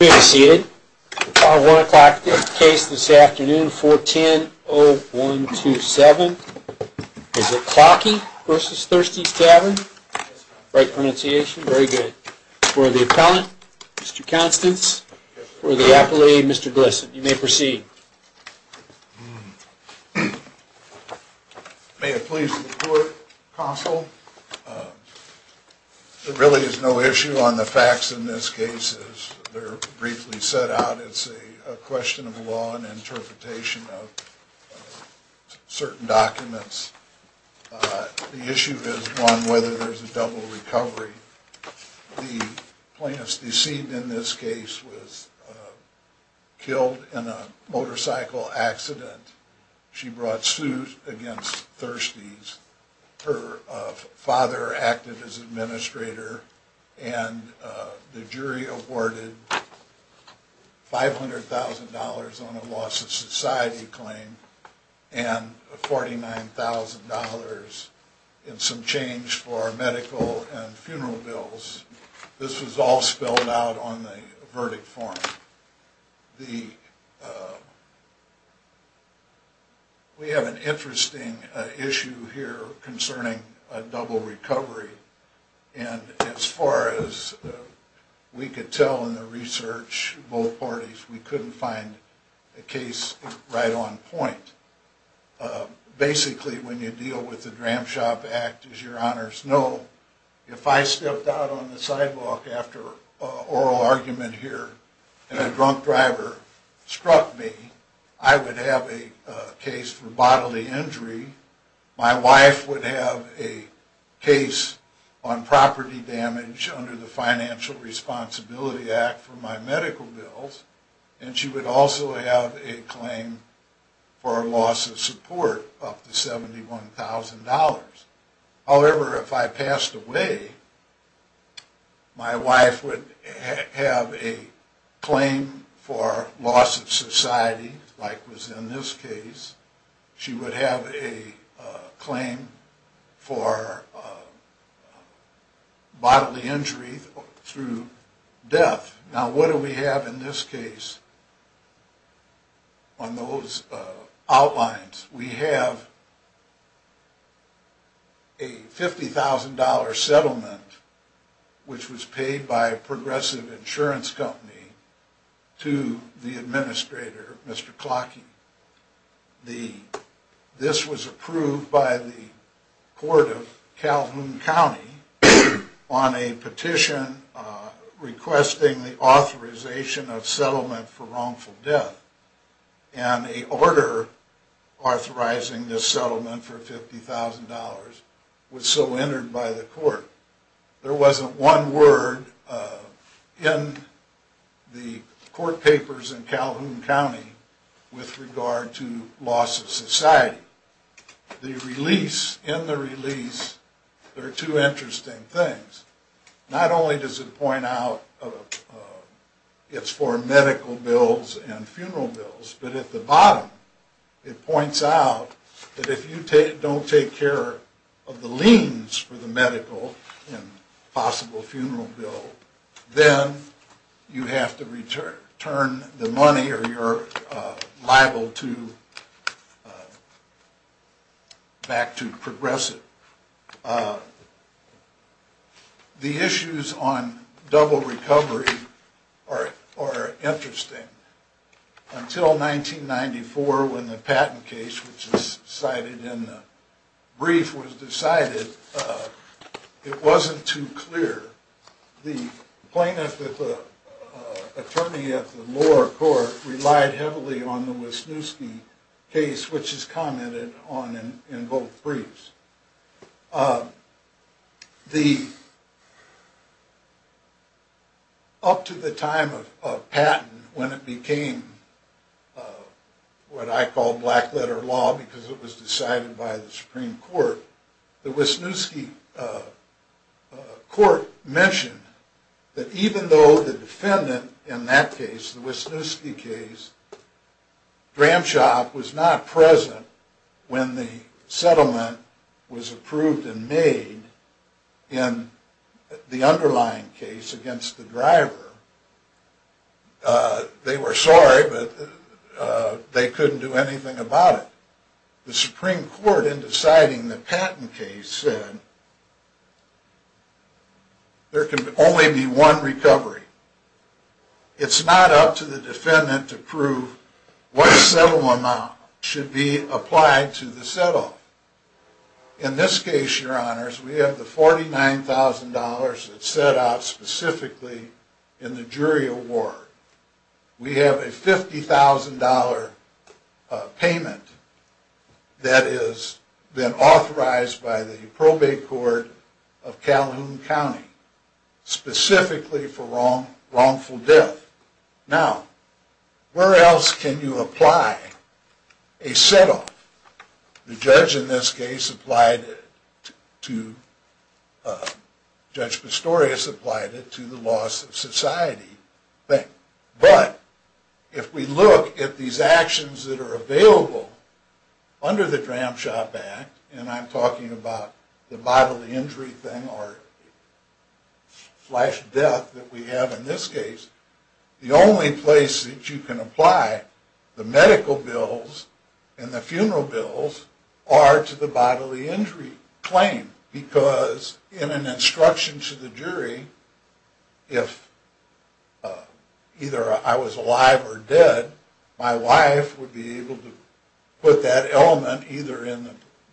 We are seated for our 1 o'clock case this afternoon, 410-0127. Is it Klocke v. Thirsty's Tavern? Right pronunciation, very good. For the appellant, Mr. Constance. For the appellee, Mr. Glesson. May it please the court, counsel, there really is no issue on the facts in this case, as they're briefly set out. It's a question of law and interpretation of certain documents. The issue is one, whether there's a double recovery. The plaintiff's deceit in this case was killed in a motorcycle accident. She brought suit against Thirsty's. Her father acted as administrator, and the jury awarded $500,000 on a loss of society claim. And $49,000 in some change for medical and funeral bills. This was all spelled out on the verdict form. We have an interesting issue here concerning a double recovery. And as far as we could tell in the research, both parties, we couldn't find a case right on point. Basically, when you deal with the Dram Shop Act, as your honors know, if I stepped out on the sidewalk after an oral argument here, and a drunk driver struck me, I would have a case for bodily injury. My wife would have a case on property damage under the Financial Responsibility Act for my medical bills. And she would also have a claim for a loss of support up to $71,000. However, if I passed away, my wife would have a claim for loss of society, like was in this case. She would have a claim for bodily injury through death. Now, what do we have in this case on those outlines? We have a $50,000 settlement, which was paid by a progressive insurance company to the administrator, Mr. Clockey. This was approved by the court of Calhoun County on a petition requesting the authorization of settlement for wrongful death. And a order authorizing this settlement for $50,000 was so entered by the court. There wasn't one word in the court papers in Calhoun County with regard to loss of society. The release, in the release, there are two interesting things. Not only does it point out it's for medical bills and funeral bills, but at the bottom, it points out that if you don't take care of the liens for the medical and possible funeral bill, then you have to return the money or you're liable back to progressive. The issues on double recovery are interesting. Until 1994, when the patent case, which is cited in the brief, was decided, it wasn't too clear. The plaintiff with the attorney at the lower court relied heavily on the Wisniewski case, which is commented on in both briefs. Up to the time of patent, when it became what I call black letter law, because it was decided by the Supreme Court. The Wisniewski court mentioned that even though the defendant, in that case, the Wisniewski case, Gramsci was not present when the settlement was approved and made in the underlying case against the driver. They were sorry, but they couldn't do anything about it. The Supreme Court, in deciding the patent case, said, there can only be one recovery. It's not up to the defendant to prove what settlement amount should be applied to the settlement. In this case, your honors, we have the $49,000 that's set out specifically in the jury award. We have a $50,000 payment that has been authorized by the probate court of Calhoun County, specifically for wrongful death. Now, where else can you apply a set off? The judge in this case applied it to, Judge Pistorius applied it to the loss of society, but if we look at these actions that are available under the Dram Shop Act, and I'm talking about the bodily injury thing or flash death that we have in this case, the only place that you can apply the medical bills and the funeral bills are to the bodily injury claim. Because in an instruction to the jury, if either I was alive or dead, my wife would be able to put that element either in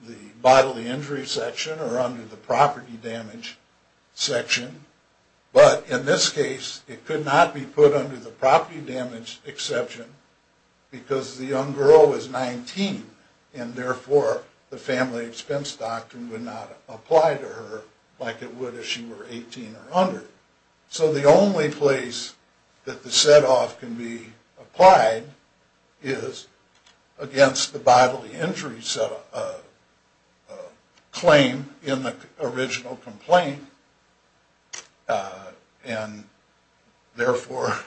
the bodily injury section or under the property damage section. But in this case, it could not be put under the property damage exception, because the young girl was 19, and therefore, the family expense doctrine would not apply to her like it would if she were 18 or under. So the only place that the set off can be applied is against the bodily injury claim in the original complaint. And therefore,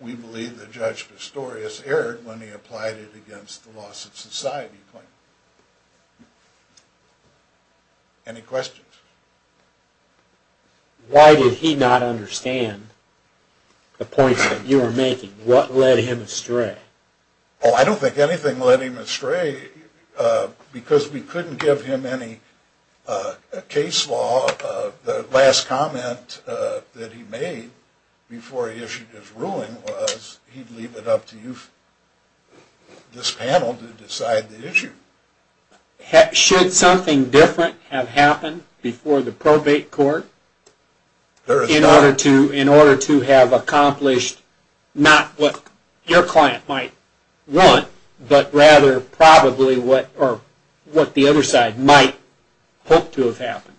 we believe that Judge Pistorius erred when he applied it against the loss of society claim. Any questions? Why did he not understand the points that you were making? What led him astray? I don't think anything led him astray because we couldn't give him any case law. The last comment that he made before he issued his ruling was he'd leave it up to you, this panel, to decide the issue. Should something different have happened before the probate court in order to have accomplished not what your client might want, but rather probably what the other side might hope to have happened?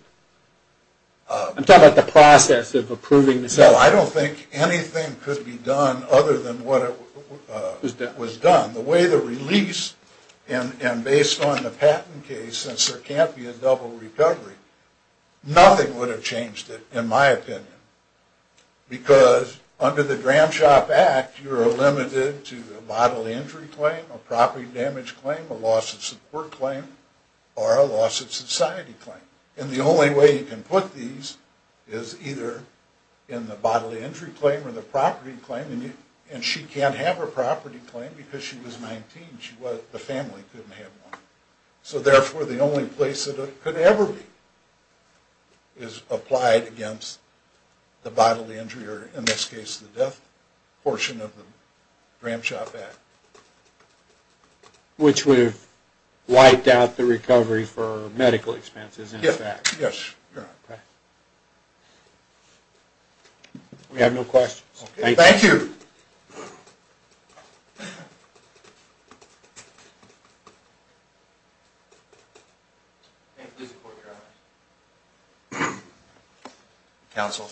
I'm talking about the process of approving the settlement. No, I don't think anything could be done other than what was done. The way the release, and based on the patent case, since there can't be a double recovery, nothing would have changed it, in my opinion, because under the Gramshop Act, you're limited to a bodily injury claim, a property damage claim, a loss of support claim, or a loss of society claim. And the only way you can put these is either in the bodily injury claim or the property claim, and she can't have a property claim because she was 19, the family couldn't have one. So therefore, the only place that it could ever be is applied against the bodily injury, or in this case, the death portion of the Gramshop Act. Which would have wiped out the recovery for medical expenses, in effect. Yes. We have no questions. Thank you. Thank you. May I please report your honors? Counsel.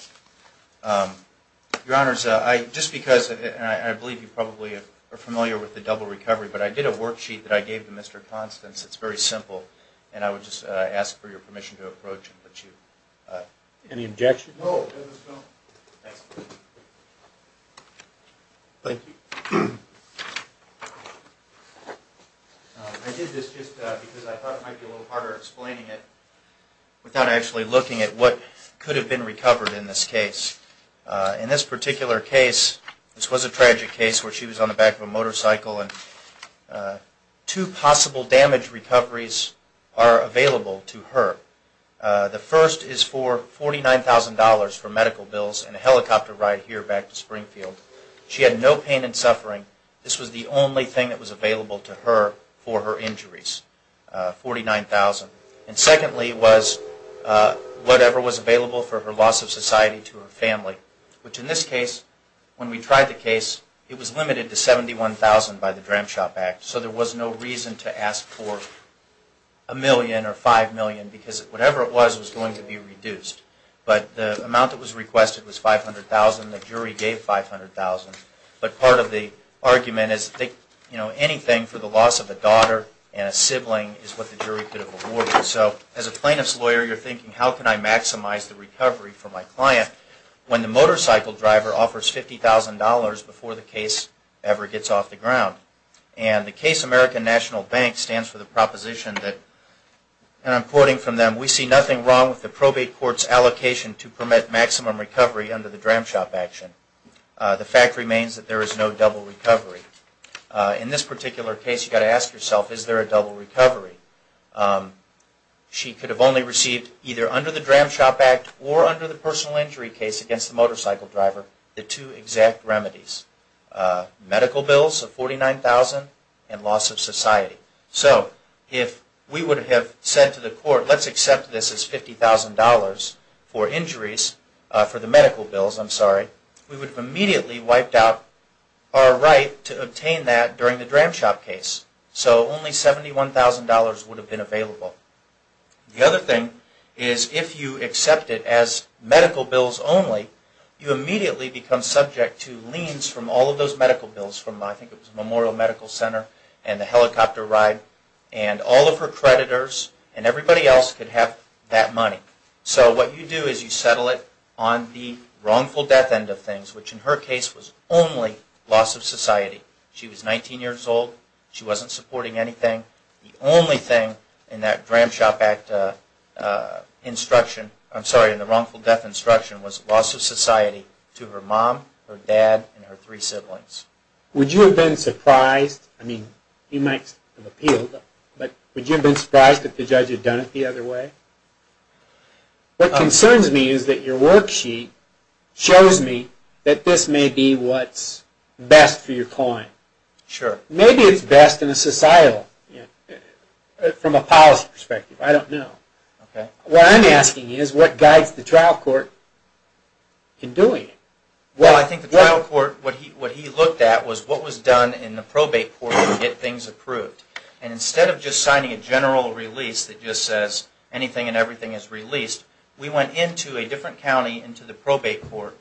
Your honors, just because, and I believe you probably are familiar with the double recovery, but I did a worksheet that I gave to Mr. Constance. It's very simple, and I would just ask for your permission to approach and let you. Any objection? No, there is none. Excellent. Thank you. I did this just because I thought it might be a little harder explaining it without actually looking at what could have been recovered in this case. In this particular case, this was a tragic case where she was on the back of a motorcycle, and two possible damage recoveries are available to her. The first is for $49,000 for medical bills and a helicopter ride here back to Springfield. She had no pain and suffering. This was the only thing that was available to her for her injuries, $49,000. And secondly was whatever was available for her loss of society to her family, which in this case, when we tried the case, it was limited to $71,000 by the Dram Shop Act. So there was no reason to ask for $1 million or $5 million, because whatever it was was going to be reduced. But the amount that was requested was $500,000. The jury gave $500,000. But part of the argument is anything for the loss of a daughter and a sibling is what the jury could have awarded. So as a plaintiff's lawyer, you're thinking, how can I maximize the recovery for my client when the motorcycle driver offers $50,000 before the case ever gets off the ground? And the case American National Bank stands for the proposition that, and I'm quoting from them, we see nothing wrong with the probate court's allocation to permit maximum recovery under the Dram Shop action. The fact remains that there is no double recovery. In this particular case, you've got to ask yourself, is there a double recovery? She could have only received either under the Dram Shop Act or under the personal injury case against the motorcycle driver the two exact remedies, medical bills of $49,000 and loss of society. So if we would have said to the court, let's accept this as $50,000 for injuries, for the medical bills, we would have immediately wiped out our right to obtain that during the Dram Shop case. So only $71,000 would have been available. The other thing is if you accept it as medical bills only, you immediately become subject to liens from all of those medical bills from, I think it was Memorial Medical Center and the helicopter ride and all of her creditors and everybody else could have that money. So what you do is you settle it on the wrongful death end of things, which in her case was only loss of society. She was 19 years old. She wasn't supporting anything. The only thing in that Dram Shop Act instruction, I'm sorry, in the wrongful death instruction was loss of society to her mom, her dad, and her three siblings. Would you have been surprised? I mean, you might have appealed, but would you have been surprised if the judge had done it the other way? What concerns me is that your worksheet shows me that this may be what's best for your client. Sure. Maybe it's best in a societal, from a policy perspective. I don't know. What I'm asking is what guides the trial court in doing it? Well, I think the trial court, what he looked at was what was done in the probate court to get things approved. And instead of just signing a general release that just says, anything and everything is released, we went into a different county, into the probate court.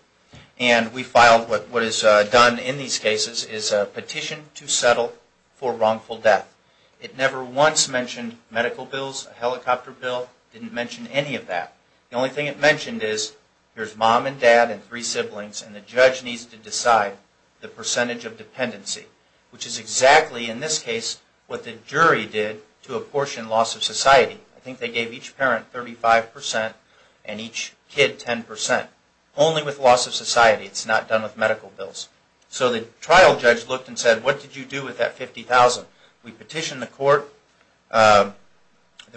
And we filed what is done in these cases is a petition to settle for wrongful death. It never once mentioned medical bills, a helicopter bill, didn't mention any of that. The only thing it mentioned is, here's mom and dad and three siblings, and the judge needs to decide the percentage of dependency, which is exactly, in this case, what the jury did to apportion loss of society. I think they gave each parent 35% and each kid 10%, only with loss of society. It's not done with medical bills. So the trial judge looked and said, what did you do with that $50,000? We petitioned the court, the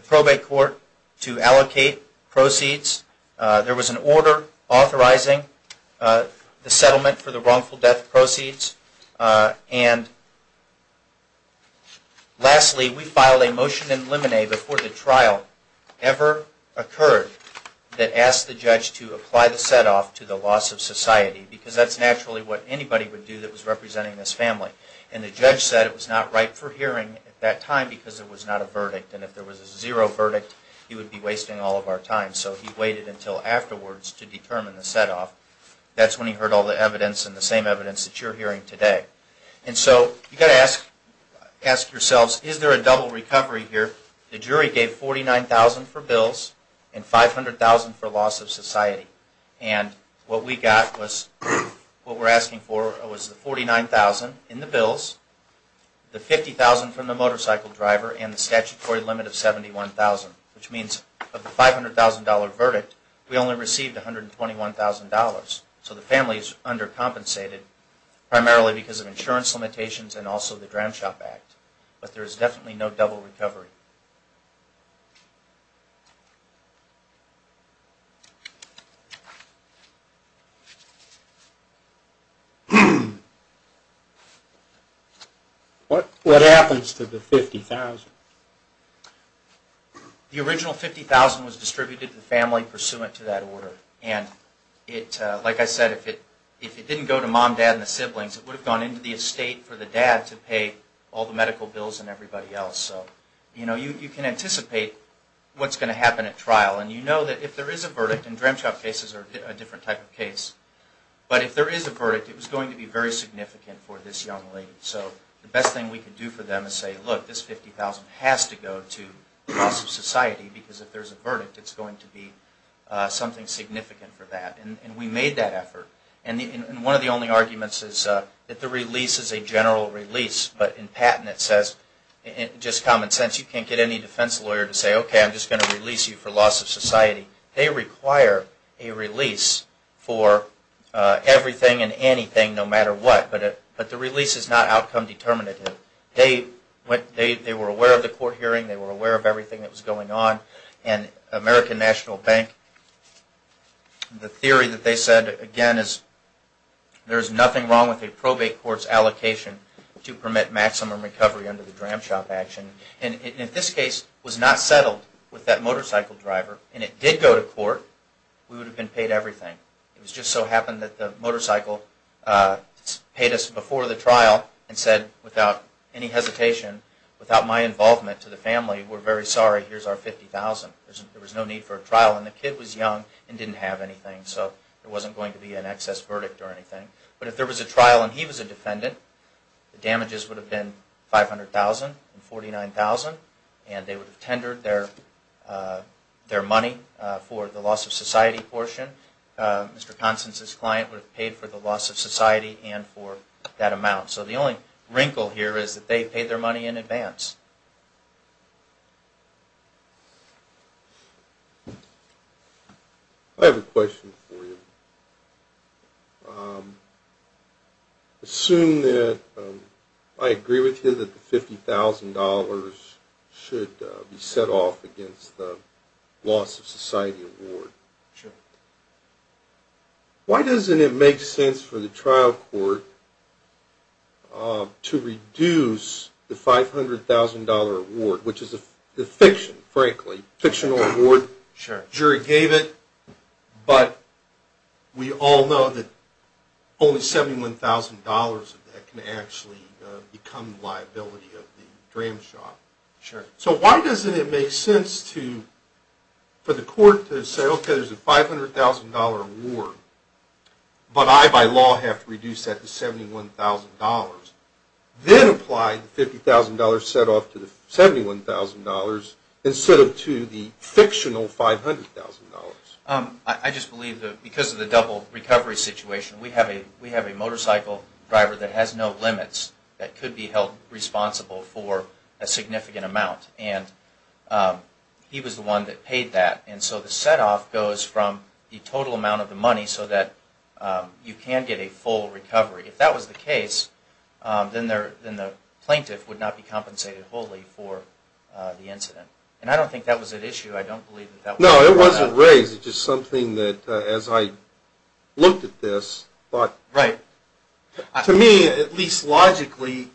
probate court, to allocate proceeds. There was an order authorizing the settlement for the wrongful death proceeds. And lastly, we filed a motion in limine before the trial ever occurred that asked the judge to apply the set-off to the loss of society. Because that's naturally what anybody would do that was representing this family. And the judge said it was not right for hearing at that time because it was not a verdict. And if there was a zero verdict, he would be wasting all of our time. So he waited until afterwards to determine the set-off. That's when he heard all the evidence and the same evidence that you're hearing today. And so you've got to ask yourselves, is there a double recovery here? The jury gave $49,000 for bills and $500,000 for loss of society. And what we got was, what we're asking for was the $49,000 in the bills, the $50,000 from the motorcycle driver, and the statutory limit of $71,000, which means of the $500,000 verdict, we only received $121,000. So the family is under-compensated primarily because of insurance limitations and also the Dram Shop Act. But there is definitely no double recovery. What happens to the $50,000? The original $50,000 was distributed to the family pursuant to that order. And like I said, if it didn't go to mom, dad, and the siblings, it would have gone into the estate for the dad to pay all the medical bills and everybody else. So you can anticipate what's going to happen at trial. And you know that if there is a verdict, and Dram Shop cases are a different type of case, but if there is a verdict, it was going to be very significant for this young lady. So the best thing we could do for them is say, look, this $50,000 has to go to loss of society because if there's a verdict, it's going to be significant for that. And we made that effort. And one of the only arguments is that the release is a general release. But in patent it says, just common sense, you can't get any defense lawyer to say, OK, I'm just going to release you for loss of society. They require a release for everything and anything no matter what. But the release is not outcome determinative. They were aware of the court hearing. They were aware of everything that was going on. And American National Bank, the theory that they said, again, is there is nothing wrong with a probate court's allocation to permit maximum recovery under the Dram Shop action. And if this case was not settled with that motorcycle driver, and it did go to court, we would have been paid everything. It was just so happened that the motorcycle paid us before the trial and said, without any hesitation, without my involvement to the family, we're very sorry. Here's our $50,000. There was no need for a trial. And the kid was young and didn't have anything. So there wasn't going to be an excess verdict or anything. But if there was a trial and he was a defendant, the damages would have been $500,000 and $49,000. And they would have tendered their money for the loss of society portion. Mr. Constance's client would have paid for the loss of society and for that amount. So the only wrinkle here is that they paid their money in advance. I have a question for you. Assume that I agree with you that the $50,000 should be set off against the loss of society award. Sure. Why doesn't it make sense for the trial court to reduce the $500,000 award, which is a defection, frankly, fictional award. Jury gave it, but we all know that only $71,000 of that can actually become liability of the dram shop. So why doesn't it make sense for the court to say, OK, there's a $500,000 award, but I, by law, have to reduce that to $71,000. Then apply the $50,000 set off to the $71,000. Instead of to the fictional $500,000. I just believe that because of the double recovery situation, we have a motorcycle driver that has no limits that could be held responsible for a significant amount. And he was the one that paid that. And so the set off goes from the total amount of the money so that you can get a full recovery. If that was the case, then the plaintiff would not be compensated wholly for the incident. And I don't think that was an issue. I don't believe that that was brought up. No, it wasn't raised. It's just something that, as I looked at this, thought. Right. To me, at least logically,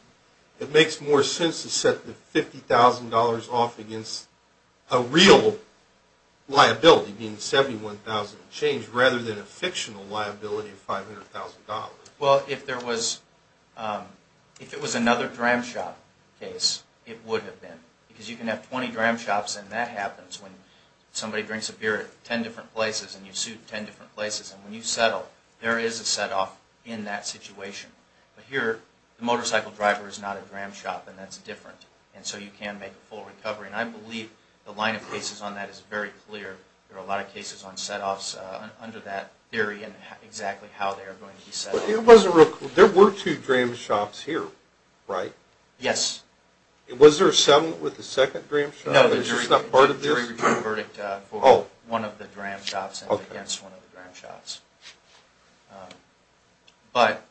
it makes more sense to set the $50,000 off against a real liability, being the $71,000 change, rather than a fictional liability of $500,000. Well, if it was another dram shop case, it would have been. Because you can have 20 dram shops, and that happens when somebody drinks a beer at 10 different places, and you sue 10 different places. And when you settle, there is a set off in that situation. But here, the motorcycle driver is not a dram shop, and that's different. And so you can make a full recovery. And I believe the line of cases on that is very clear. There are a lot of cases on set offs under that theory and exactly how they are going to be settled. There were two dram shops here, right? Yes. Was there a settlement with the second dram shop? No, the jury returned a verdict for one of the dram shops and against one of the dram shops. But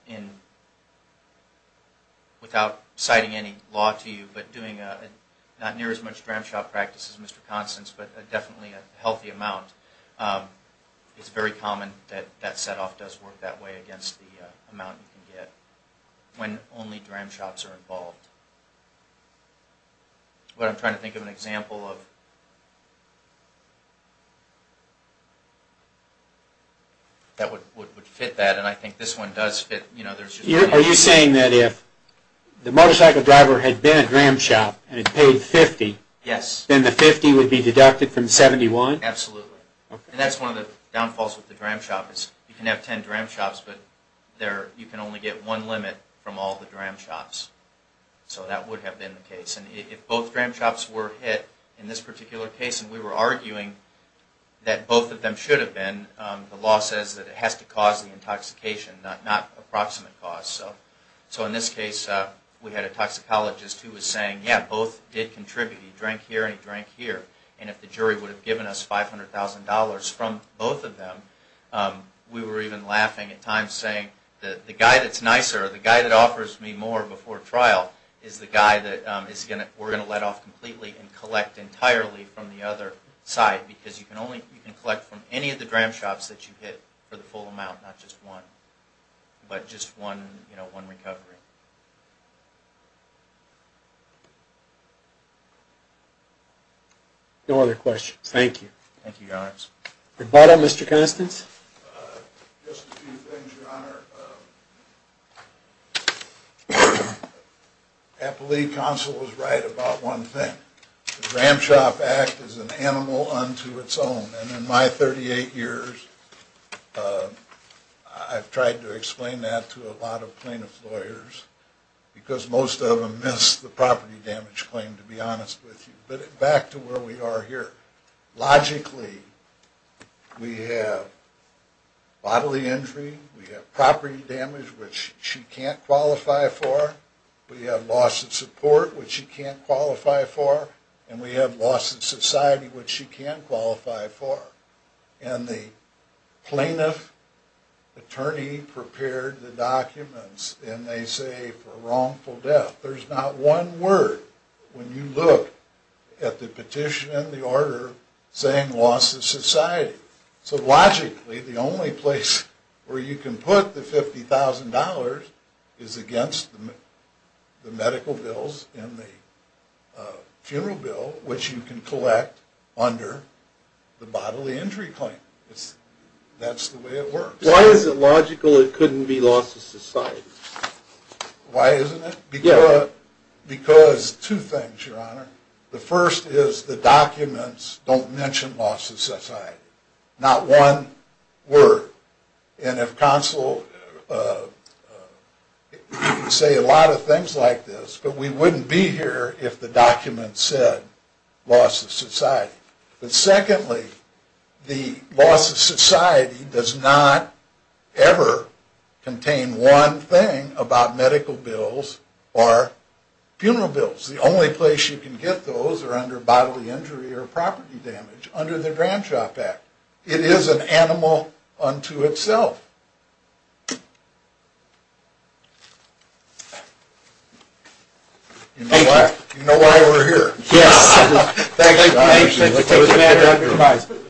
without citing any law to you, but doing not near as much dram shop practice as Mr. Constance, but definitely a healthy amount, it's that set off does work that way against the amount you can get when only dram shops are involved. What I'm trying to think of an example of that would fit that, and I think this one does fit. Are you saying that if the motorcycle driver had been a dram shop and had paid $50, then the $50 would be deducted from $71? Absolutely. And that's one of the downfalls with the dram shop is you can have 10 dram shops, but you can only get one limit from all the dram shops. So that would have been the case. And if both dram shops were hit in this particular case, and we were arguing that both of them should have been, the law says that it has to cause the intoxication, not approximate cause. So in this case, we had a toxicologist who was saying, yeah, both did contribute. He drank here and he drank here. And if the jury would have given us $500,000 from both of them, we were even laughing at times saying that the guy that's nicer, the guy that offers me more before trial, is the guy that we're going to let off completely and collect entirely from the other side. Because you can collect from any of the dram shops that you hit for the full amount, not just one, but just one recovery. No other questions. Thank you. Thank you, Your Honors. Rebuttal, Mr. Constance? Just a few things, Your Honor. I believe Counsel was right about one thing. The Dram Shop Act is an animal unto its own. And in my 38 years, I've tried to explain that to a lot of plaintiff's lawyers, because most of them miss the property damage claim, to be honest with you. But back to where we are here. Logically, we have bodily injury. We have property damage, which she can't qualify for. We have loss of support, which she can't qualify for. And we have loss of society, which she can qualify for. And the plaintiff attorney prepared the documents. And they say, for wrongful death. There's not one word when you look at the petition and the order saying loss of society. So logically, the only place where you can put the $50,000 is against the medical bills and the funeral bill, which you can collect under the bodily injury claim. That's the way it works. Why is it logical it couldn't be loss of society? Why isn't it? Because two things, Your Honor. The first is the documents don't mention loss of society. Not one word. And if counsel say a lot of things like this, but we wouldn't be here if the document said loss of society. But secondly, the loss of society does not ever contain one thing about medical bills or funeral bills. The only place you can get those are under bodily injury or property damage, under the Grand Shop Act. It is an animal unto itself. You know why we're here. Yes. Thank you. Thank you. Thank you. Thank you. Thank you. Thank you. Thank you. Thank you. Thank you. Thank you.